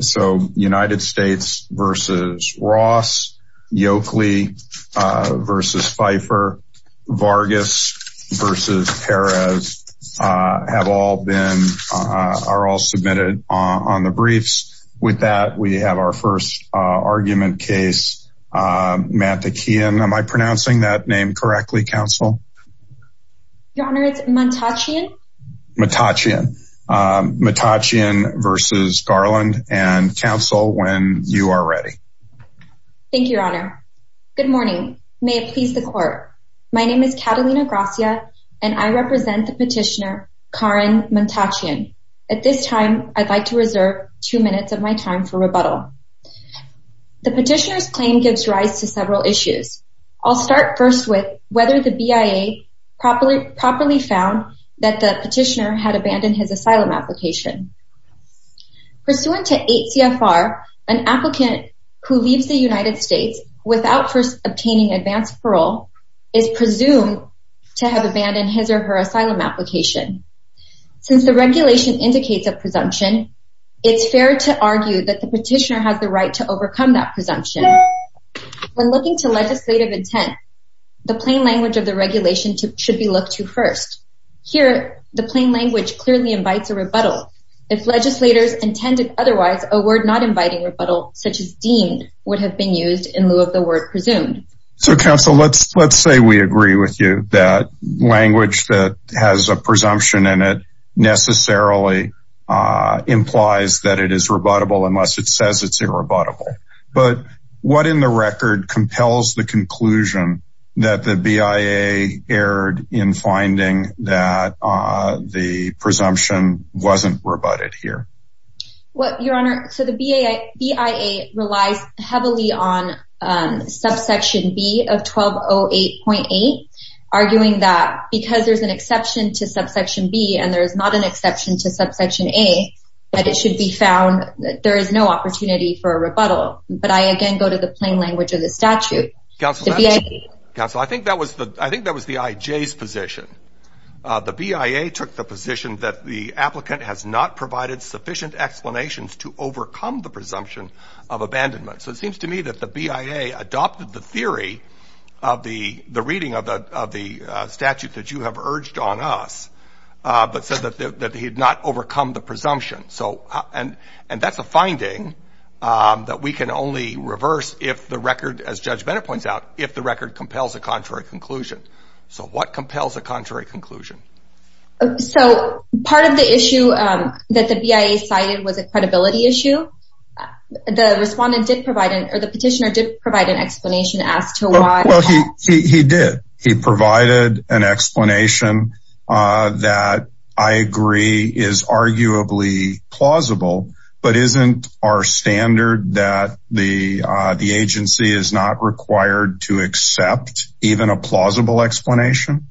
so United States versus Ross, Yokeley versus Pfeiffer, Vargas versus Perez have all been, are all submitted on the briefs. With that we have our first argument case, Mantachian, am I pronouncing that name correctly counsel? Your Honor, it's Mantachian. Mantachian versus Garland and counsel when you are ready. Thank you, Your Honor. Good morning, may it please the court. My name is Catalina Gracia and I represent the petitioner Karen Mantachian. At this time I'd like to reserve two minutes of my time for rebuttal. The petitioner's claim gives rise to several issues. I'll start first with whether the BIA properly found that the petitioner had abandoned his asylum application. Pursuant to 8 CFR, an applicant who leaves the United States without first obtaining advanced parole is presumed to have abandoned his or her asylum application. Since the regulation indicates a presumption, it's fair to argue that the petitioner has the right to overcome that plain language of the regulation should be looked to first. Here, the plain language clearly invites a rebuttal. If legislators intended otherwise, a word not inviting rebuttal such as deemed would have been used in lieu of the word presumed. So counsel, let's let's say we agree with you that language that has a presumption in it necessarily implies that it is rebuttable unless it says it's that the BIA erred in finding that the presumption wasn't rebutted here. Well, your honor, so the BIA relies heavily on subsection B of 1208.8, arguing that because there's an exception to subsection B and there's not an exception to subsection A, that it should be found that there is no opportunity for a rebuttal. But I again go to the plain language of the statute. Counsel, I think that was the IJ's position. The BIA took the position that the applicant has not provided sufficient explanations to overcome the presumption of abandonment. So it seems to me that the BIA adopted the theory of the reading of the statute that you have urged on us, but said that he had not overcome the presumption. And that's a finding that we can only reverse if the record, as Judge Bennett points out, if the record compels a contrary conclusion. So what compels a contrary conclusion? So part of the issue that the BIA cited was a credibility issue. The respondent did provide, or the petitioner did provide an explanation as to why. Well, he did. He provided an explanation that I agree is arguably plausible, but isn't our standard that the agency is not required to accept even a plausible explanation?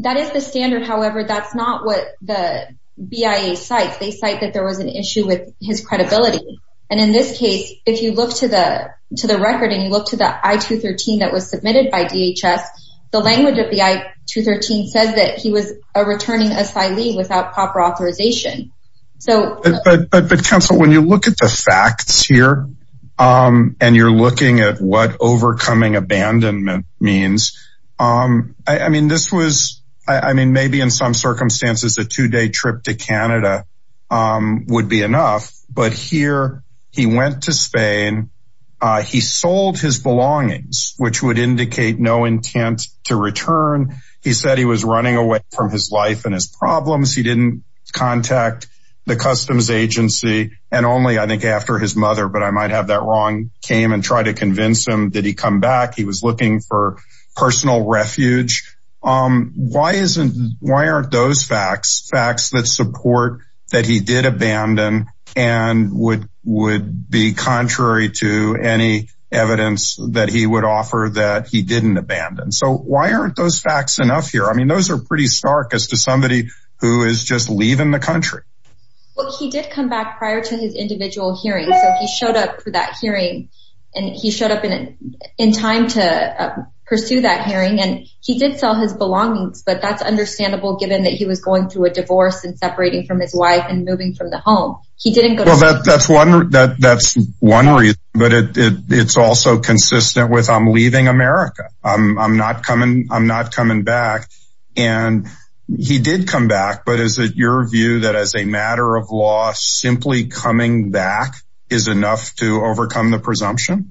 That is the standard. However, that's not what the BIA cites. They cite that there was an issue with his credibility. And in this case, if you look to the record and you look to the I-213 that was submitted by DHS, the language of the I-213 says that he was a returning asylee without proper authorization. But counsel, when you look at the facts here, and you're looking at what overcoming abandonment means, I mean, this was, I mean, maybe in some circumstances, a two day trip to Canada would be enough. But here, he went to Spain, he sold his belongings, which would indicate no intent to return. He said he was running away from his life and his problems. He didn't contact the Customs Agency. And only, I think, after his mother, but I might have that wrong, came and tried to convince him that he come back. He was looking for personal refuge. Why isn't, why aren't those facts, facts that support that he did abandon and would be contrary to any evidence that he would abandon? So why aren't those facts enough here? I mean, those are pretty stark as to somebody who is just leaving the country. Well, he did come back prior to his individual hearing. So he showed up for that hearing. And he showed up in, in time to pursue that hearing. And he did sell his belongings. But that's understandable, given that he was going through a divorce and separating from his wife and moving from the home. He didn't go. That's one, that's one reason. But it's also consistent with I'm leaving America. I'm not coming, I'm not coming back. And he did come back. But is it your view that as a matter of law, simply coming back is enough to overcome the presumption?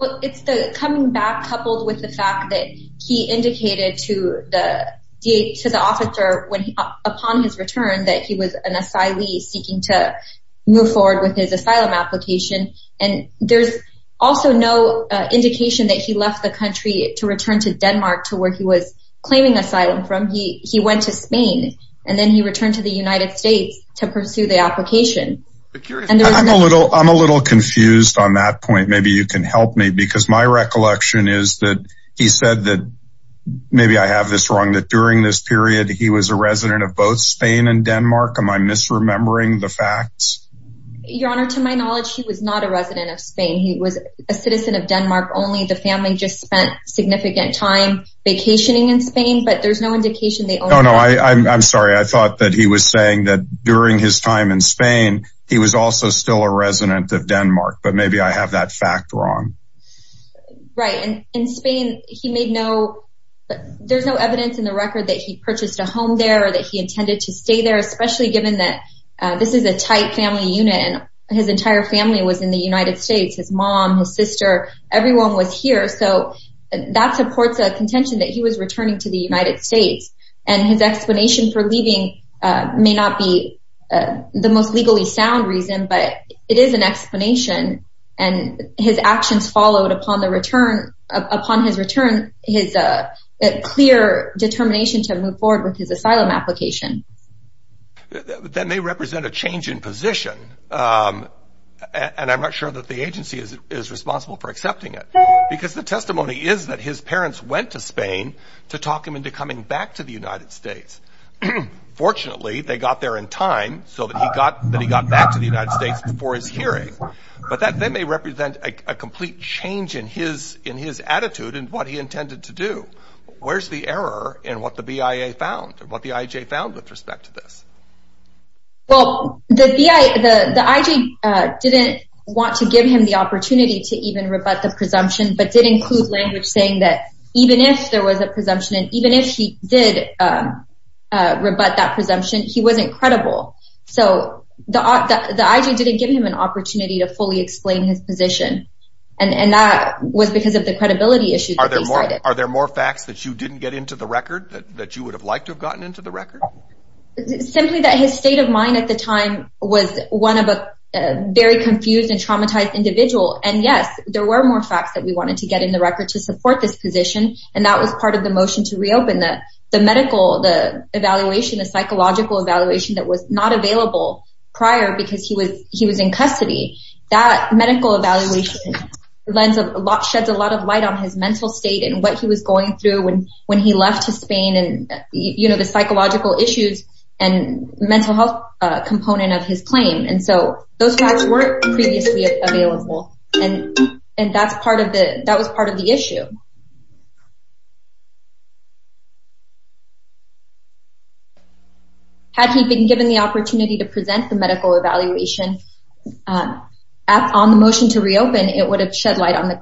Well, it's the coming back coupled with the fact that he indicated to the DA, to the officer when upon his seeking to move forward with his asylum application. And there's also no indication that he left the country to return to Denmark to where he was claiming asylum from he he went to Spain, and then he returned to the United States to pursue the application. And I'm a little I'm a little confused on that point. Maybe you can help me because my recollection is that he said that maybe I have this wrong that during this period, he was a resident of both Spain and Denmark. Am I misremembering the facts? Your Honor, to my knowledge, he was not a resident of Spain. He was a citizen of Denmark only the family just spent significant time vacationing in Spain, but there's no indication they Oh, no, I'm sorry. I thought that he was saying that during his time in Spain, he was also still a resident of Denmark, but maybe I have that fact wrong. Right. And in Spain, he made no, there's no evidence in the record that he purchased a home there that he intended to stay there, especially given that this is a tight family unit, and his entire family was in the United States, his mom, his sister, everyone was here. So that supports a contention that he was returning to the United States. And his explanation for leaving may not be the most legally sound reason, but it is an explanation. And his actions followed upon the that may represent a change in position. And I'm not sure that the agency is responsible for accepting it. Because the testimony is that his parents went to Spain to talk him into coming back to the United States. Fortunately, they got there in time so that he got that he got back to the United States before his hearing. But that they may represent a complete change in his in his attitude and what he intended to do. Where's the error in what the BIA found what the IJ found with respect to this? Well, the BIA, the IJ didn't want to give him the opportunity to even rebut the presumption but didn't include language saying that even if there was a presumption, and even if he did rebut that presumption, he wasn't credible. So the IJ didn't give him an opportunity to fully explain his position. And that was because of the credibility issue. Are there more facts that you didn't get into the record that you would have liked to have gotten into the record? Simply that his state of mind at the time was one of a very confused and traumatized individual. And yes, there were more facts that we wanted to get in the record to support this position. And that was part of the motion to reopen that the medical the evaluation, the psychological evaluation that was not available prior because he was he was in custody, that medical evaluation, lens of lot sheds a lot of light on his mental state and what he was going through when when he left to Spain and, you know, mental health component of his claim. And so those facts weren't previously available. And, and that's part of the that was part of the issue. Had he been given the opportunity to present the medical evaluation on the motion to reopen, it would have shed light on the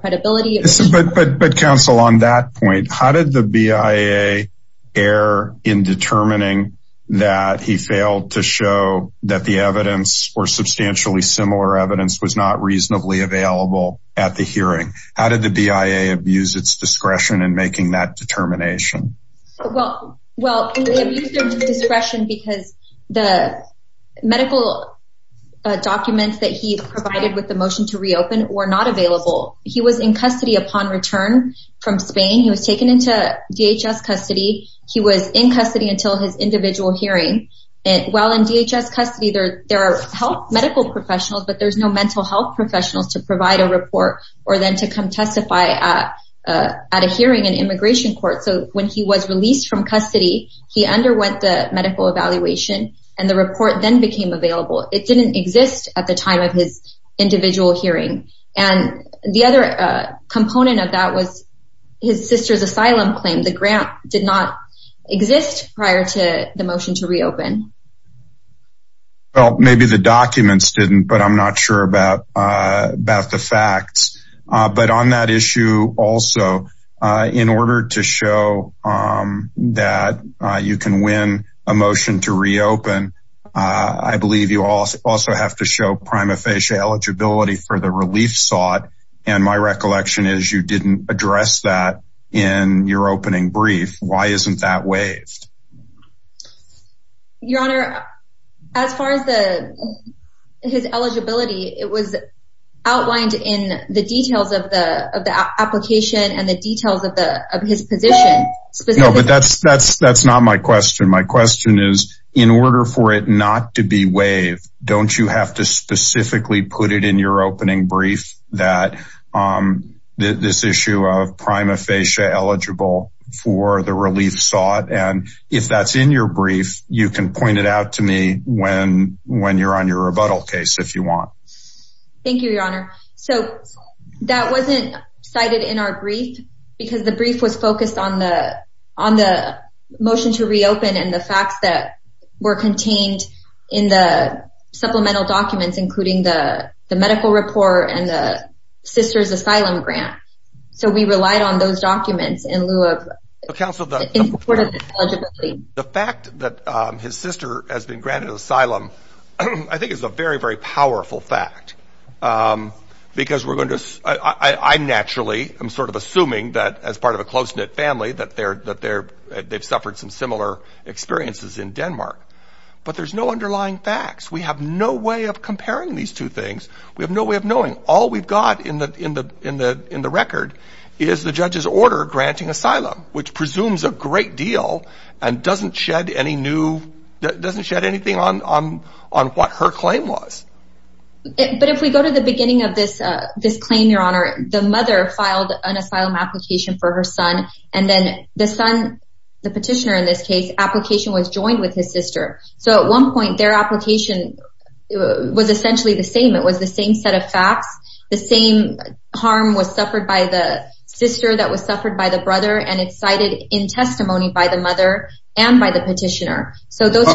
failed to show that the evidence or substantially similar evidence was not reasonably available at the hearing. How did the BIA abuse its discretion in making that determination? Well, well, discretion because the medical documents that he provided with the motion to reopen or not available. He was in custody upon return from Spain, he was taken into DHS custody, he was in custody until his individual hearing. And while in DHS custody, there, there are health medical professionals, but there's no mental health professionals to provide a report, or then to come testify at a hearing in immigration court. So when he was released from custody, he underwent the medical evaluation, and the report then became available. It didn't exist at the time of his individual hearing. And the other component of that was his sister's asylum claim, the grant did not exist prior to the motion to reopen. Well, maybe the documents didn't, but I'm not sure about, about the facts. But on that issue, also, in order to show that you can win a motion to have to show prima facie eligibility for the relief sought, and my recollection is you didn't address that in your opening brief, why isn't that waived? Your Honor, as far as the his eligibility, it was outlined in the details of the of the application and the details of the of his position. But that's, that's, that's not my question. My question is, in order for it not to be waived, don't you have to specifically put it in your opening brief that this issue of prima facie eligible for the relief sought and if that's in your brief, you can point it out to me when when you're on your rebuttal case if you want. Thank you, Your Honor. So that wasn't cited in our brief, because the brief was focused on the on the motion to reopen and the facts that were contained in the supplemental documents, including the medical report and the sister's asylum grant. So we relied on those documents in lieu of counsel. The fact that his sister has been granted asylum, I think is a very, very powerful fact. Because we're going to I naturally I'm sort of assuming that as part of a close knit family that they're that they're, they've suffered some similar experiences in Denmark. But there's no underlying facts. We have no way of comparing these two things. We have no way of knowing all we've got in the in the in the in the record is the judge's a great deal, and doesn't shed any new doesn't shed anything on on on what her claim was. But if we go to the beginning of this, this claim, Your Honor, the mother filed an asylum application for her son. And then the son, the petitioner in this case application was joined with his sister. So at one point, their application was essentially the same, it was the same set of testimony by the mother and by the petitioner. So those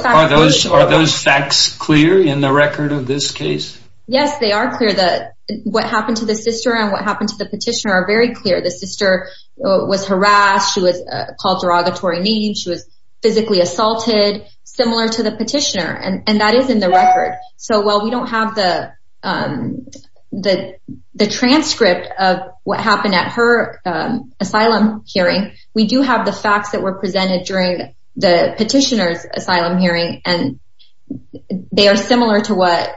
are those facts clear in the record of this case? Yes, they are clear that what happened to the sister and what happened to the petitioner are very clear. The sister was harassed, she was called derogatory name, she was physically assaulted, similar to the petitioner. And that is in the record. So while we don't have the the transcript of what happened at her asylum hearing, we do have the facts that were presented during the petitioner's asylum hearing. And they are similar to what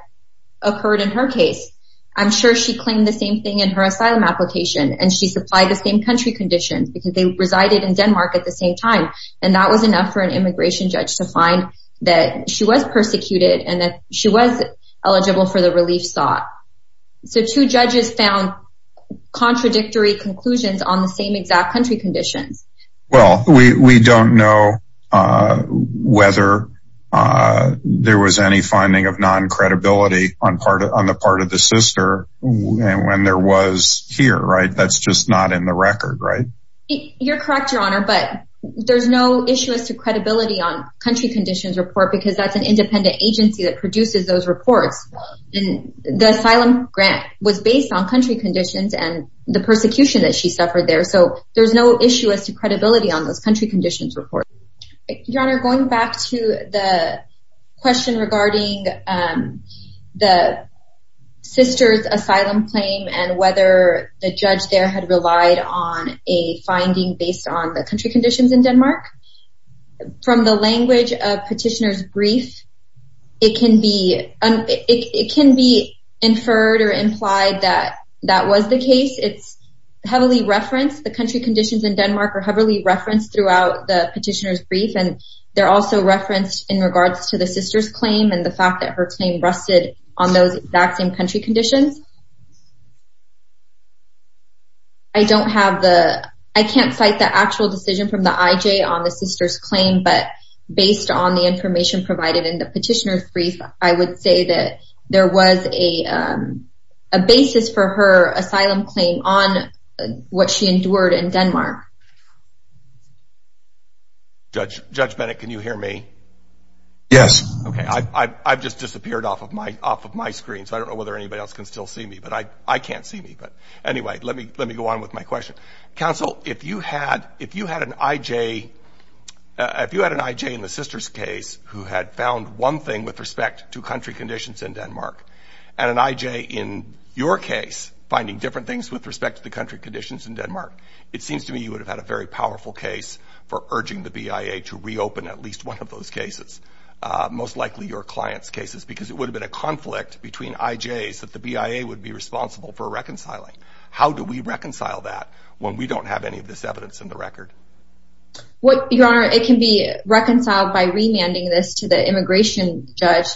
occurred in her case, I'm sure she claimed the same thing in her asylum application, and she supplied the same country conditions because they resided in Denmark at the same time. And that was enough for an immigration judge to find that she was persecuted and that she was eligible for the relief sought. So two judges found contradictory conclusions on the same exact country conditions. Well, we don't know whether there was any finding of non credibility on part of on the part of the sister. And when there was here, right, that's just not in the record, right? You're correct, Your Honor, but there's no issue as to country conditions and the persecution that she suffered there. So there's no issue as to credibility on those country conditions report, Your Honor, going back to the question regarding the sister's asylum claim, and whether the judge there had relied on a finding based on the country conditions in Denmark, that was the case, it's heavily referenced, the country conditions in Denmark are heavily referenced throughout the petitioner's brief. And they're also referenced in regards to the sister's claim and the fact that her claim rested on those exact same country conditions. I don't have the I can't cite the actual decision from the IJ on the sister's claim. But based on the information provided in the petitioner's brief, I would say that there was a basis for her asylum claim on what she endured in Denmark. Judge Judge Bennett, can you hear me? Yes. Okay. I've just disappeared off of my off of my screen. So I don't know whether anybody else can still see me. But I can't see me. But anyway, let me let me go on with my question. Counsel, if you had if you had an IJ, if you had an IJ in the sister's case, who had found one thing with respect to country conditions in Denmark, and an IJ in your case, finding different things with respect to the country conditions in Denmark, it seems to me you would have had a very powerful case for urging the BIA to reopen at least one of those cases, most likely your client's cases, because it would have been a conflict between IJs that the BIA would be responsible for reconciling. How do we reconcile that when we don't have any of this evidence in the record? What your honor, it can be reconciled by remanding this to the immigration judge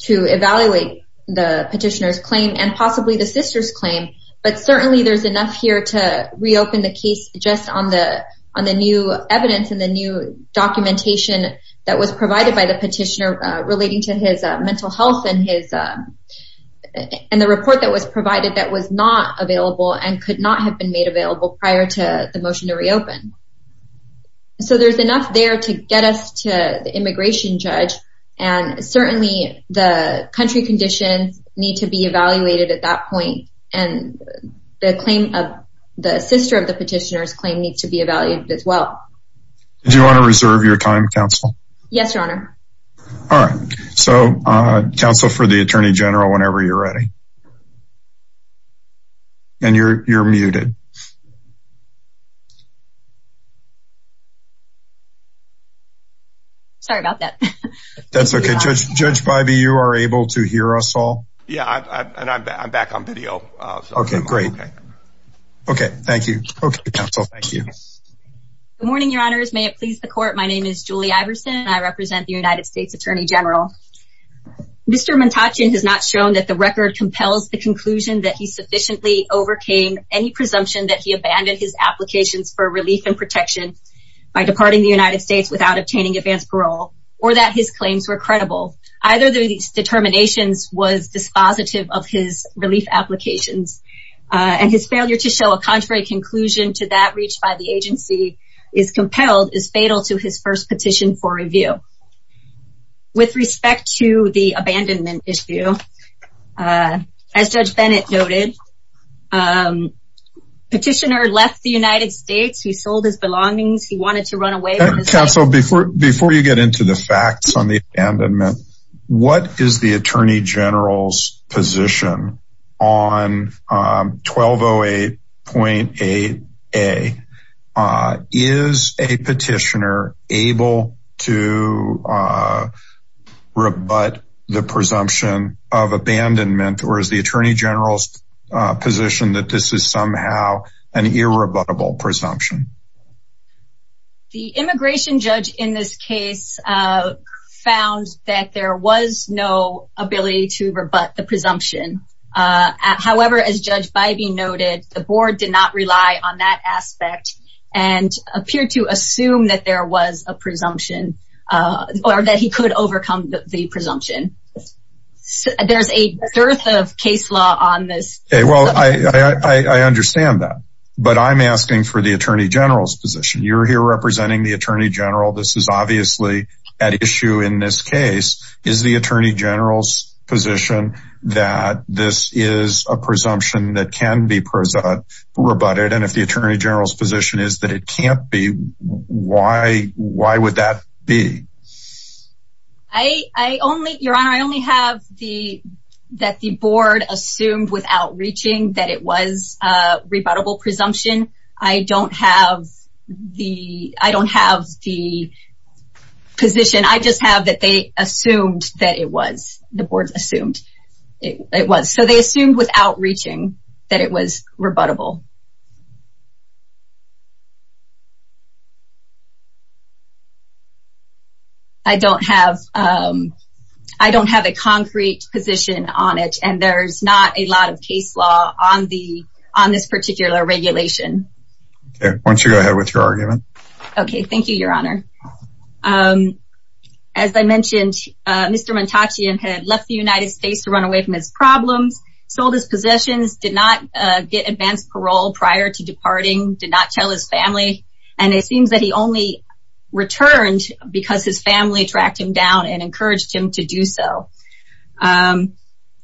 to evaluate the petitioner's claim and possibly the sister's claim. But certainly there's enough here to reopen the case just on the on the new evidence and the new documentation that was provided by the petitioner relating to his mental health and his and the report that was provided that was not available and could not have been made available prior to the motion to reopen. So there's enough there to get us to the immigration judge. And certainly the country conditions need to be evaluated at that point. And the claim of the sister of the petitioner's claim needs to be evaluated as well. Do you want to reserve your time, counsel? Yes, your honor. All right. So, counsel for the Attorney General, whenever you're ready. And you're muted. Sorry about that. That's okay. Judge, Judge Bybee, you are able to hear us all? Yeah, I'm back on video. Okay, great. Okay, thank you. Okay, counsel. Thank you. Good morning, your honors. May it please the court. My name is Julie Iverson. I represent the United States Attorney General. Mr. Muntachian has not shown that the record compels the conclusion that he sufficiently overcame any presumption that he abandoned his applications for relief and protection by departing the United States without obtaining advanced parole, or that his claims were credible. Either these determinations was dispositive of his relief applications, and his claim that he was not engaged by the agency is compelled is fatal to his first petition for review. With respect to the abandonment issue, as Judge Bennett noted, petitioner left the United States, he sold his belongings, he wanted to run away. Counsel, before before you get into the facts on the abandonment, what is the Attorney General's position on 1208.8a? Is a petitioner able to rebut the presumption of abandonment? Or is the Attorney General's position that this is somehow an irrebuttable presumption? The immigration judge in this case, found that there was no ability to rebut the presumption. However, as Judge Bybee noted, the board did not rely on that aspect, and appeared to assume that there was a presumption, or that he could overcome the presumption. There's a dearth of case law on this. Okay, well, I understand that. But I'm asking for the Attorney General's position. You're here representing the Attorney General, this is obviously at issue in this case, is the Attorney General's position that this is a presumption that can be rebutted? And if the Attorney General's position is that it can't be, why? Why would that be? I only, Your Honor, I only have the, that the board assumed without reaching that it was a rebuttable presumption. I don't have the, I don't have the position. I just have that they assumed that it was, the board assumed it was. So they assumed without reaching that it was rebuttable. I don't have, I don't have a concrete position on it. And there's not a lot of case law on the, on this particular regulation. Okay, why don't you go ahead with your argument. Okay, thank you, Your Honor. As I mentioned, Mr. Montachian had left the United States to run away from his problems, sold his possessions, did not get advanced parole prior to departing, did not tell his family, and it seems that he only returned because his family tracked him down and encouraged him to do so.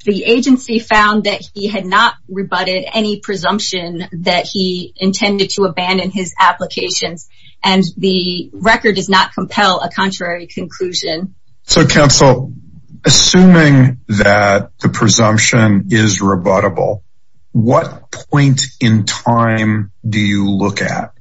The agency found that he had not rebutted any presumption that he intended to abandon his applications, and the record does not compel a contrary conclusion. So counsel, assuming that the presumption is rebuttable, what point in time do you look at?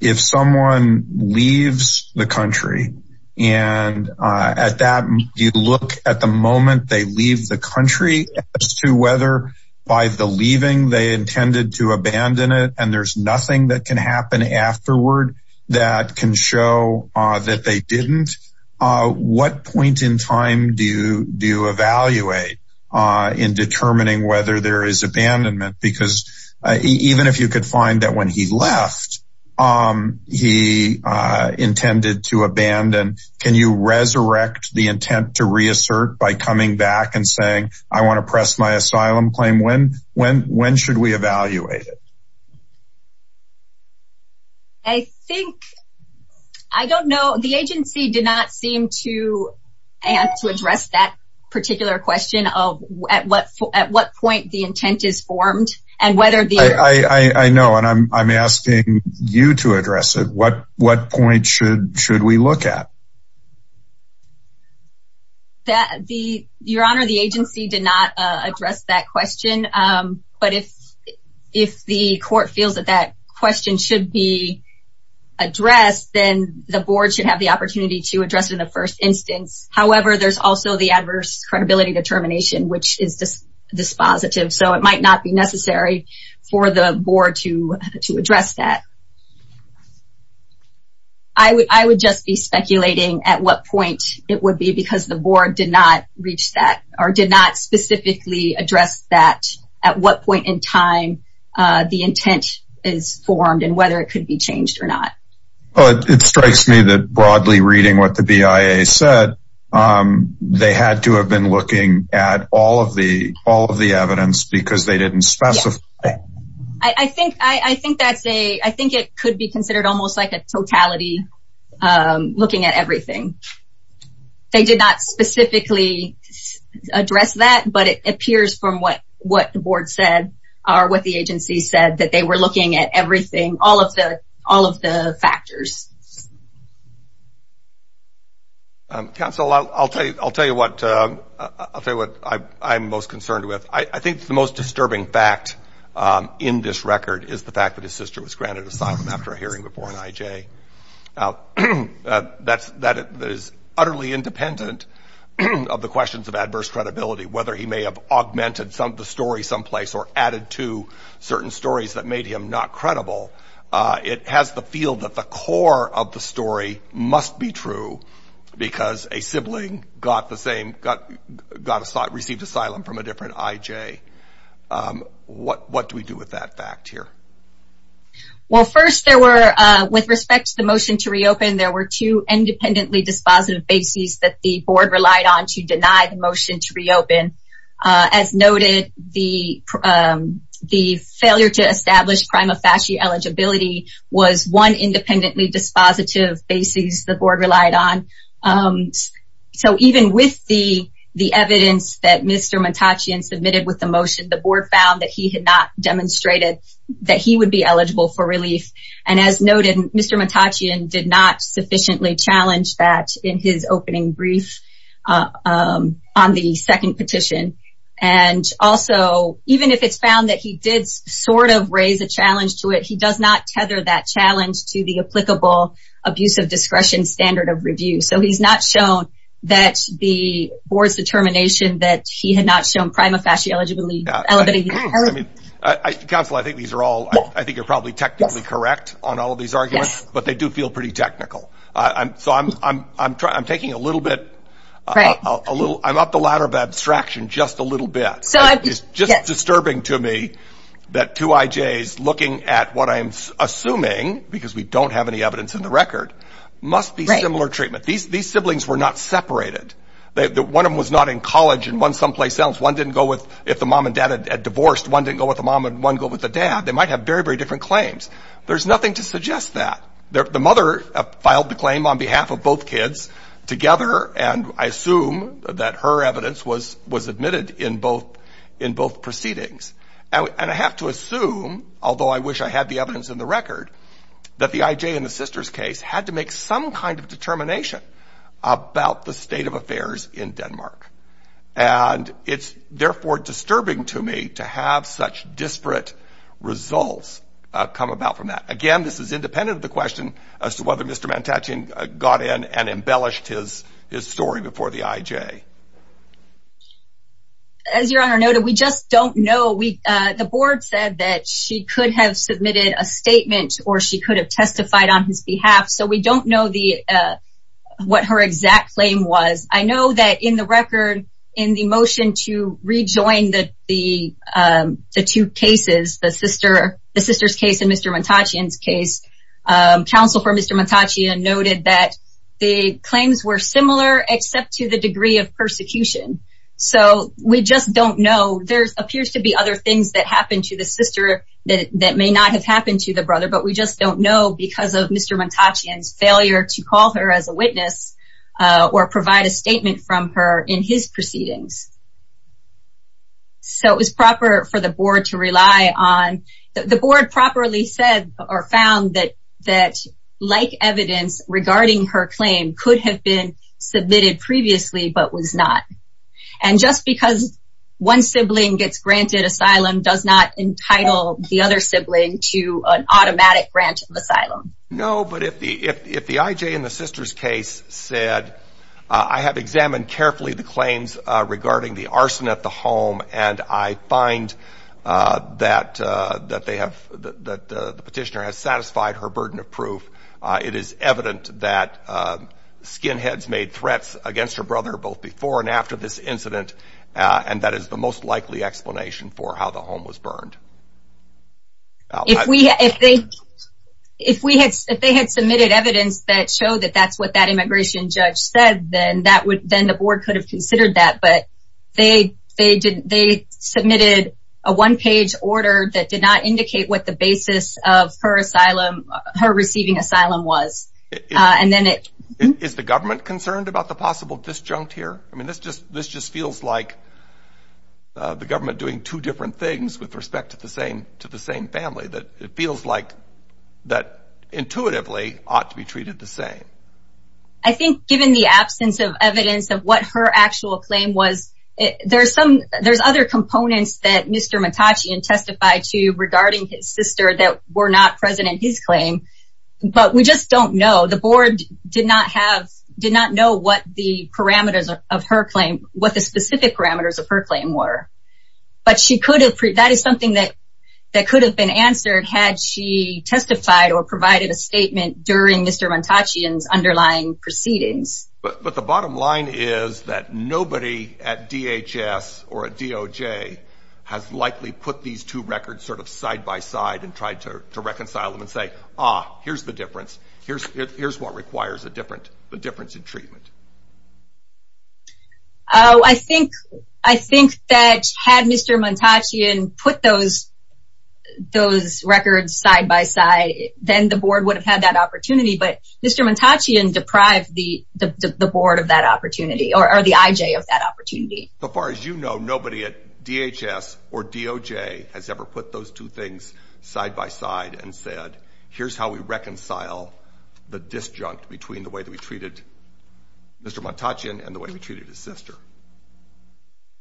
If someone leaves the country, and at that, you look at the moment they leave the country as to whether by the leaving they intended to abandon it, and there's nothing that can happen afterward that can show that they didn't. What point in time do you, do you evaluate in determining whether there is abandonment? Because even if you could find that when he left, he intended to abandon, can you resurrect the intent to reassert by coming back and saying, I want to press my asylum claim when, when, when should we evaluate it? I think, I don't know, the agency did not seem to have to address that particular question of at what, at what point the intent is formed, and whether the I know and I'm asking you to address it, what, what point should, should we look at? That the, Your Honor, the agency did not address that question. But if, if the court feels that that question should be addressed, then the board should have the opportunity to address it in the first instance. However, there's also the adverse credibility determination, which is dispositive. So it might not be necessary for the board to, to address that. I would, I would just be speculating at what point it would be because the board did not reach that or did not specifically address that at what point in time the intent is formed and whether it could be changed or not. It strikes me that broadly reading what the BIA said, they had to have been looking at all of the all of the evidence because they didn't specify. I think, I think that's a, I think it could be considered almost like a totality looking at everything. They did not specifically address that, but it appears from what, what the board said, or what the agency said that they were looking at everything, all of the, all of the factors. Counsel, I'll tell you, I'll tell you what, I'll tell you what I'm most concerned with. I think the most disturbing fact in this record is the fact that his sister was granted asylum after a hearing before an IJ. Now that's, that is utterly independent of the questions of adverse credibility, whether he may have augmented some of the story someplace or added to certain stories that made him not credible. It has the feel that the core of the story must be true because a sibling got the same, got, got, received asylum from a different IJ. What, what do we do with that fact here? Well, first there were, with respect to the motion to reopen, there were two independently dispositive bases that the board relied on to deny the motion to reopen. As noted, the, the failure to establish prima facie eligibility was one independently dispositive bases the board relied on. So even with the, the evidence that Mr. Matachian submitted with the motion, the board found that he had not demonstrated that he would be eligible for relief. And as noted, Mr. Matachian did not sufficiently challenge that in his opening brief on the second petition. And also, even if it's found that he did sort of raise a challenge to it, he does not tether that challenge to the applicable abuse of discretion standard of review. So he's not shown that the board's determination that he had not shown prima facie eligibility. Counsel, I think these are all, I think you're probably technically correct on all of these arguments, but they do feel pretty technical. So I'm, I'm, I'm taking a little bit, a little, I'm up the ladder of abstraction just a little bit. It's just disturbing to me that two IJs looking at what I'm assuming, because we don't have any evidence in the record, must be similar treatment. These, these siblings were not separated. One of them was not in college and one someplace else. One didn't go with, if the mom and dad had divorced, one didn't go with the mom and one go with the dad. They might have very, very different claims. There's nothing to suggest that. The mother filed the claim on behalf of both kids together, and I assume that her evidence was, was admitted in both, in both proceedings. And I have to assume, although I wish I had the evidence in the record, that the IJ in the sister's case had to make some kind of determination about the state of affairs in Denmark. And it's therefore disturbing to me to have such disparate results come about from that. Again, this is independent of the question as to whether Mr. Mantaccian got in and embellished his, his story before the IJ. As Your Honor noted, we just don't know. We, the board said that she could have submitted a statement or she could have testified on his behalf. So we don't know the, what her exact claim was. I know that in the record, in the motion to rejoin the, the, the two cases, the sister, the sister's case and Mr. Mantaccian's case, counsel for Mr. Mantaccian noted that the claims were similar except to the degree of persecution. So we just don't know. There appears to be other things that happened to the sister that may not have happened to the brother, but we just don't know because of Mr. Mantaccian's failure to call her as a witness or provide a statement from her in his proceedings. So it was proper for the board to rely on, the board properly said or found that, that like evidence regarding her claim could have been submitted previously but was not. And just because one sibling gets granted asylum does not entitle the other sibling to an automatic grant of asylum. No, but if the, if, if the IJ in the sister's case said, I have examined carefully the claims regarding the arson at the home and I find that, that they have, that the petitioner has satisfied her burden of proof. It is evident that skinheads made threats against her brother both before and after this incident. And that is the most likely explanation for how the home was burned. If we, if they, if we had, if they had submitted evidence that showed that that's what that immigration judge said, then that would, then the board could have considered that. But they, they did, they submitted a one-page order that did not indicate what the basis of her asylum, her receiving asylum was. And then it... Is the government concerned about the possible disjunct here? I mean, this just, this just feels like the government doing two different things with respect to the same, to the same family. That it feels like, that intuitively ought to be treated the same. I think given the absence of evidence of what her actual claim was, there's some, there's other components that Mr. Montachian testified to regarding his sister that were not present in his claim. But we just don't know. The board did not have, did not know what the parameters of her claim, what the specific parameters of her claim were. But she could have, that is something that could have been answered had she testified or provided a statement during Mr. Montachian's underlying proceedings. But the bottom line is that nobody at DHS or at DOJ has likely put these two records sort of side-by-side and tried to reconcile them and say, ah, here's the difference. Here's what requires a different, a difference in treatment. Oh, I think, I think that had Mr. Montachian put those, those records side-by-side, then the board would have had that opportunity. But Mr. Montachian deprived the, the board of that opportunity, or the IJ of that opportunity. But far as you know, nobody at DHS or DOJ has ever put those two things side-by-side and said, here's how we reconcile the disjunct between the way that we treated Mr. Montachian and the way we treated his sister.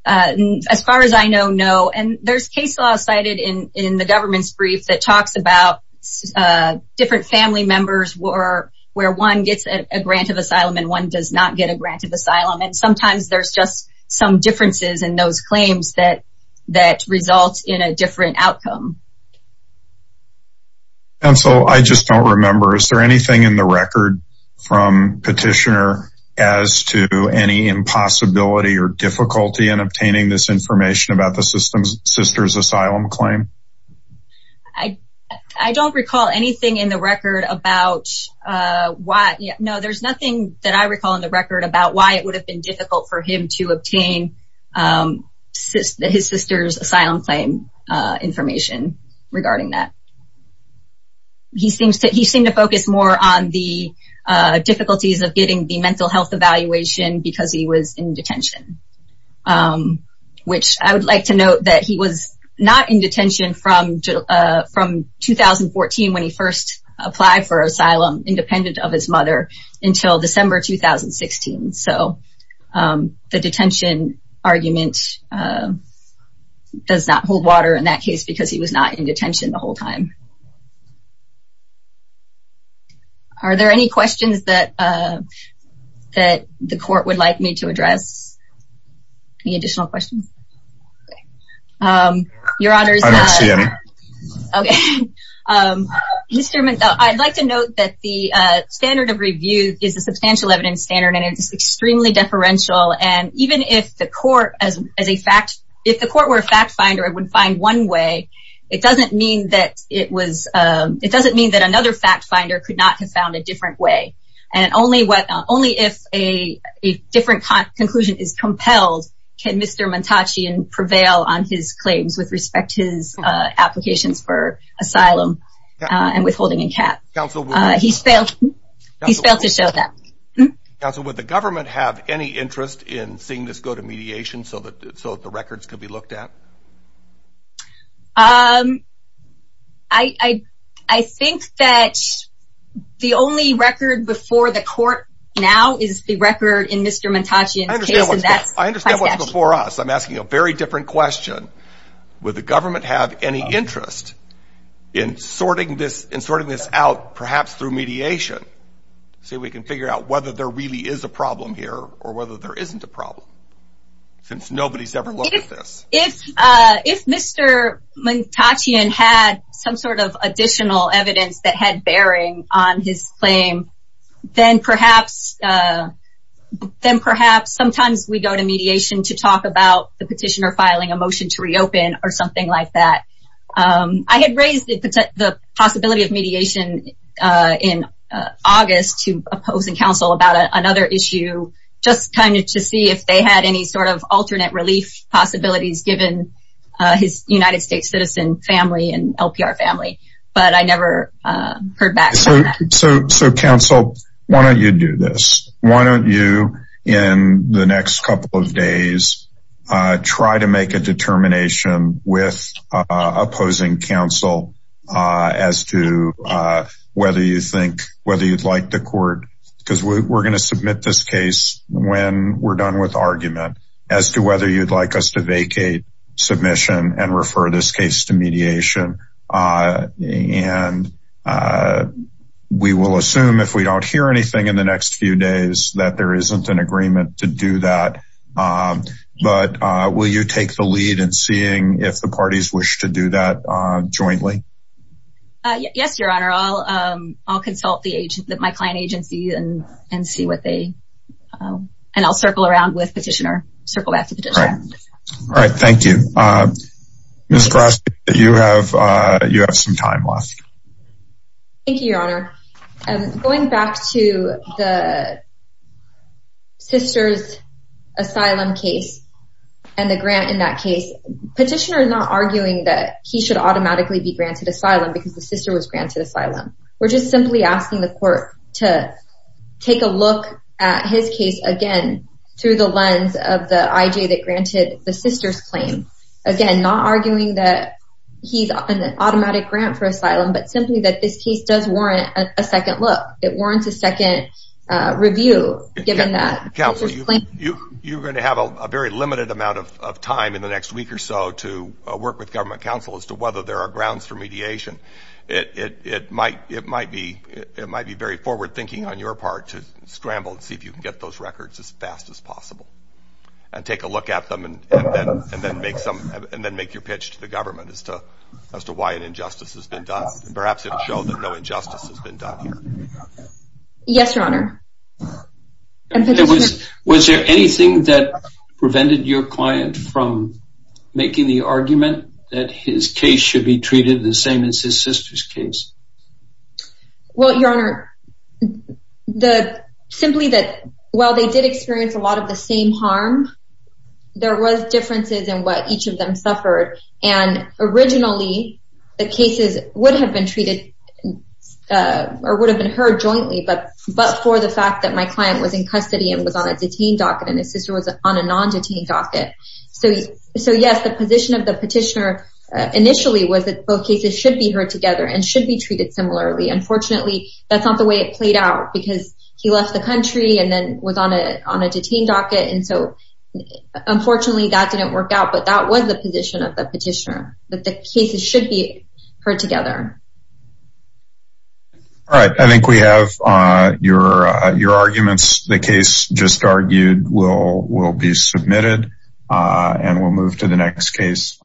As far as I know, no. And there's case law cited in, in the government's brief that talks about different family members where, where one gets a grant of asylum and one does not get a grant of asylum. And sometimes there's just some differences in those claims that, that results in a different outcome. And so I just don't remember. Is there anything in the record from Petitioner as to any impossibility or difficulty in obtaining this information about the sister's asylum claim? I, I don't recall anything in the record about why. No, there's nothing that I recall in the record about why it would have been difficult for him to obtain his sister's asylum claim information regarding that. He seems to, he seemed to focus more on the difficulties of getting the mental health evaluation because he was in detention. Which I would like to note that he was not in detention from, from 2014 when he first applied for asylum independent of his mother until December 2016. So the detention argument does not hold water in that case because he was not in detention the whole time. Are there any questions that, that the court would like me to address? Any additional questions? Okay. Your honors. I don't see any. Okay. Mr. McDowell, I'd like to note that the standard of review is a substantial evidence standard and it's extremely deferential. And even if the court as, as a fact, if the court were a fact finder, it would find one way. It doesn't mean that it was, it doesn't mean that another fact finder could not have found a different way. And only what, only if a, a different conclusion is compelled, can Mr. Montachian prevail on his claims with respect to his applications for asylum and withholding a cap. He's failed, he's failed to show that. Counsel, would the government have any interest in seeing this go to mediation so that, so that the records could be looked at? Um, I, I, I think that the only record before the court now is the record in Mr. Montachian's case. I understand what's before us. I'm asking a very different question. Would the government have any interest in sorting this, in sorting this out perhaps through mediation? So we can figure out whether there really is a problem here or whether there isn't a problem. Since nobody's ever looked at this. If, uh, if Mr. Montachian had some sort of additional evidence that had bearing on his claim, then perhaps, uh, then perhaps sometimes we go to mediation to talk about the petitioner filing a motion to reopen or something like that. Um, I had raised the possibility of mediation, uh, in August to opposing counsel about another issue, just kind of to see if they had any sort of alternate relief possibilities given his United States citizen family and LPR family. But I never heard back. So, so, so counsel, why don't you do this? Why don't you in the next couple of days, uh, try to make a determination with, uh, opposing counsel, uh, as to, uh, whether you think, whether you'd like the court, cause we're going to submit this case when we're done with argument as to whether you'd like us to vacate submission and refer this case to mediation. Uh, and, uh, we will assume if we don't hear anything in the next few days that there isn't an agreement to do that. Um, but, uh, will you take the lead and seeing if the parties wish to do that, uh, jointly? Uh, yes, your honor. I'll, um, I'll consult the agent that my client agency and, and see what they, um, and I'll circle around with petitioner circle back to petitioner. All right. Thank you. Uh, you have, uh, you have some time left. Thank you, your honor. I'm going back to the sister's asylum case and the grant in that case. Petitioner is not arguing that he should automatically be granted asylum because the sister was granted asylum. We're just simply asking the court to take a look at his case again through the lens of the IJ that granted the sister's claim. Again, not arguing that he's an automatic grant for asylum, but simply that this case does warrant a second look. It warrants a second, uh, review given that. Counsel, you, you, you're going to have a very limited amount of, of time in the next week or so to, uh, work with government counsel as to whether there are grounds for mediation. It, it, it might, it might be, it might be very forward thinking on your part to scramble and see if you can get those records as fast as possible. And take a look at them and, and then make some, and then make your pitch to the government as to, as to why an injustice has been done. Perhaps it will show that no injustice has been done here. Yes, your honor. Was there anything that prevented your client from making the argument that his case should be treated the same as his sister's case? Well, your honor, the, simply that while they did experience a lot of the same harm, there was differences in what each of them suffered. And originally the cases would have been treated, uh, or would have been heard jointly, but, but for the fact that my client was in custody and was on a detained docket and his sister was on a non-detained docket. So, so yes, the position of the petitioner initially was that both cases should be heard together and should be treated similarly. Unfortunately, that's not the way it played out because he left the country and then was on a, on a detained docket. And so unfortunately that didn't work out, but that was the position of the petitioner, that the cases should be heard together. All right. I think we have, uh, your, uh, your arguments. The case just argued will, will be submitted, uh, and we'll move to the next case.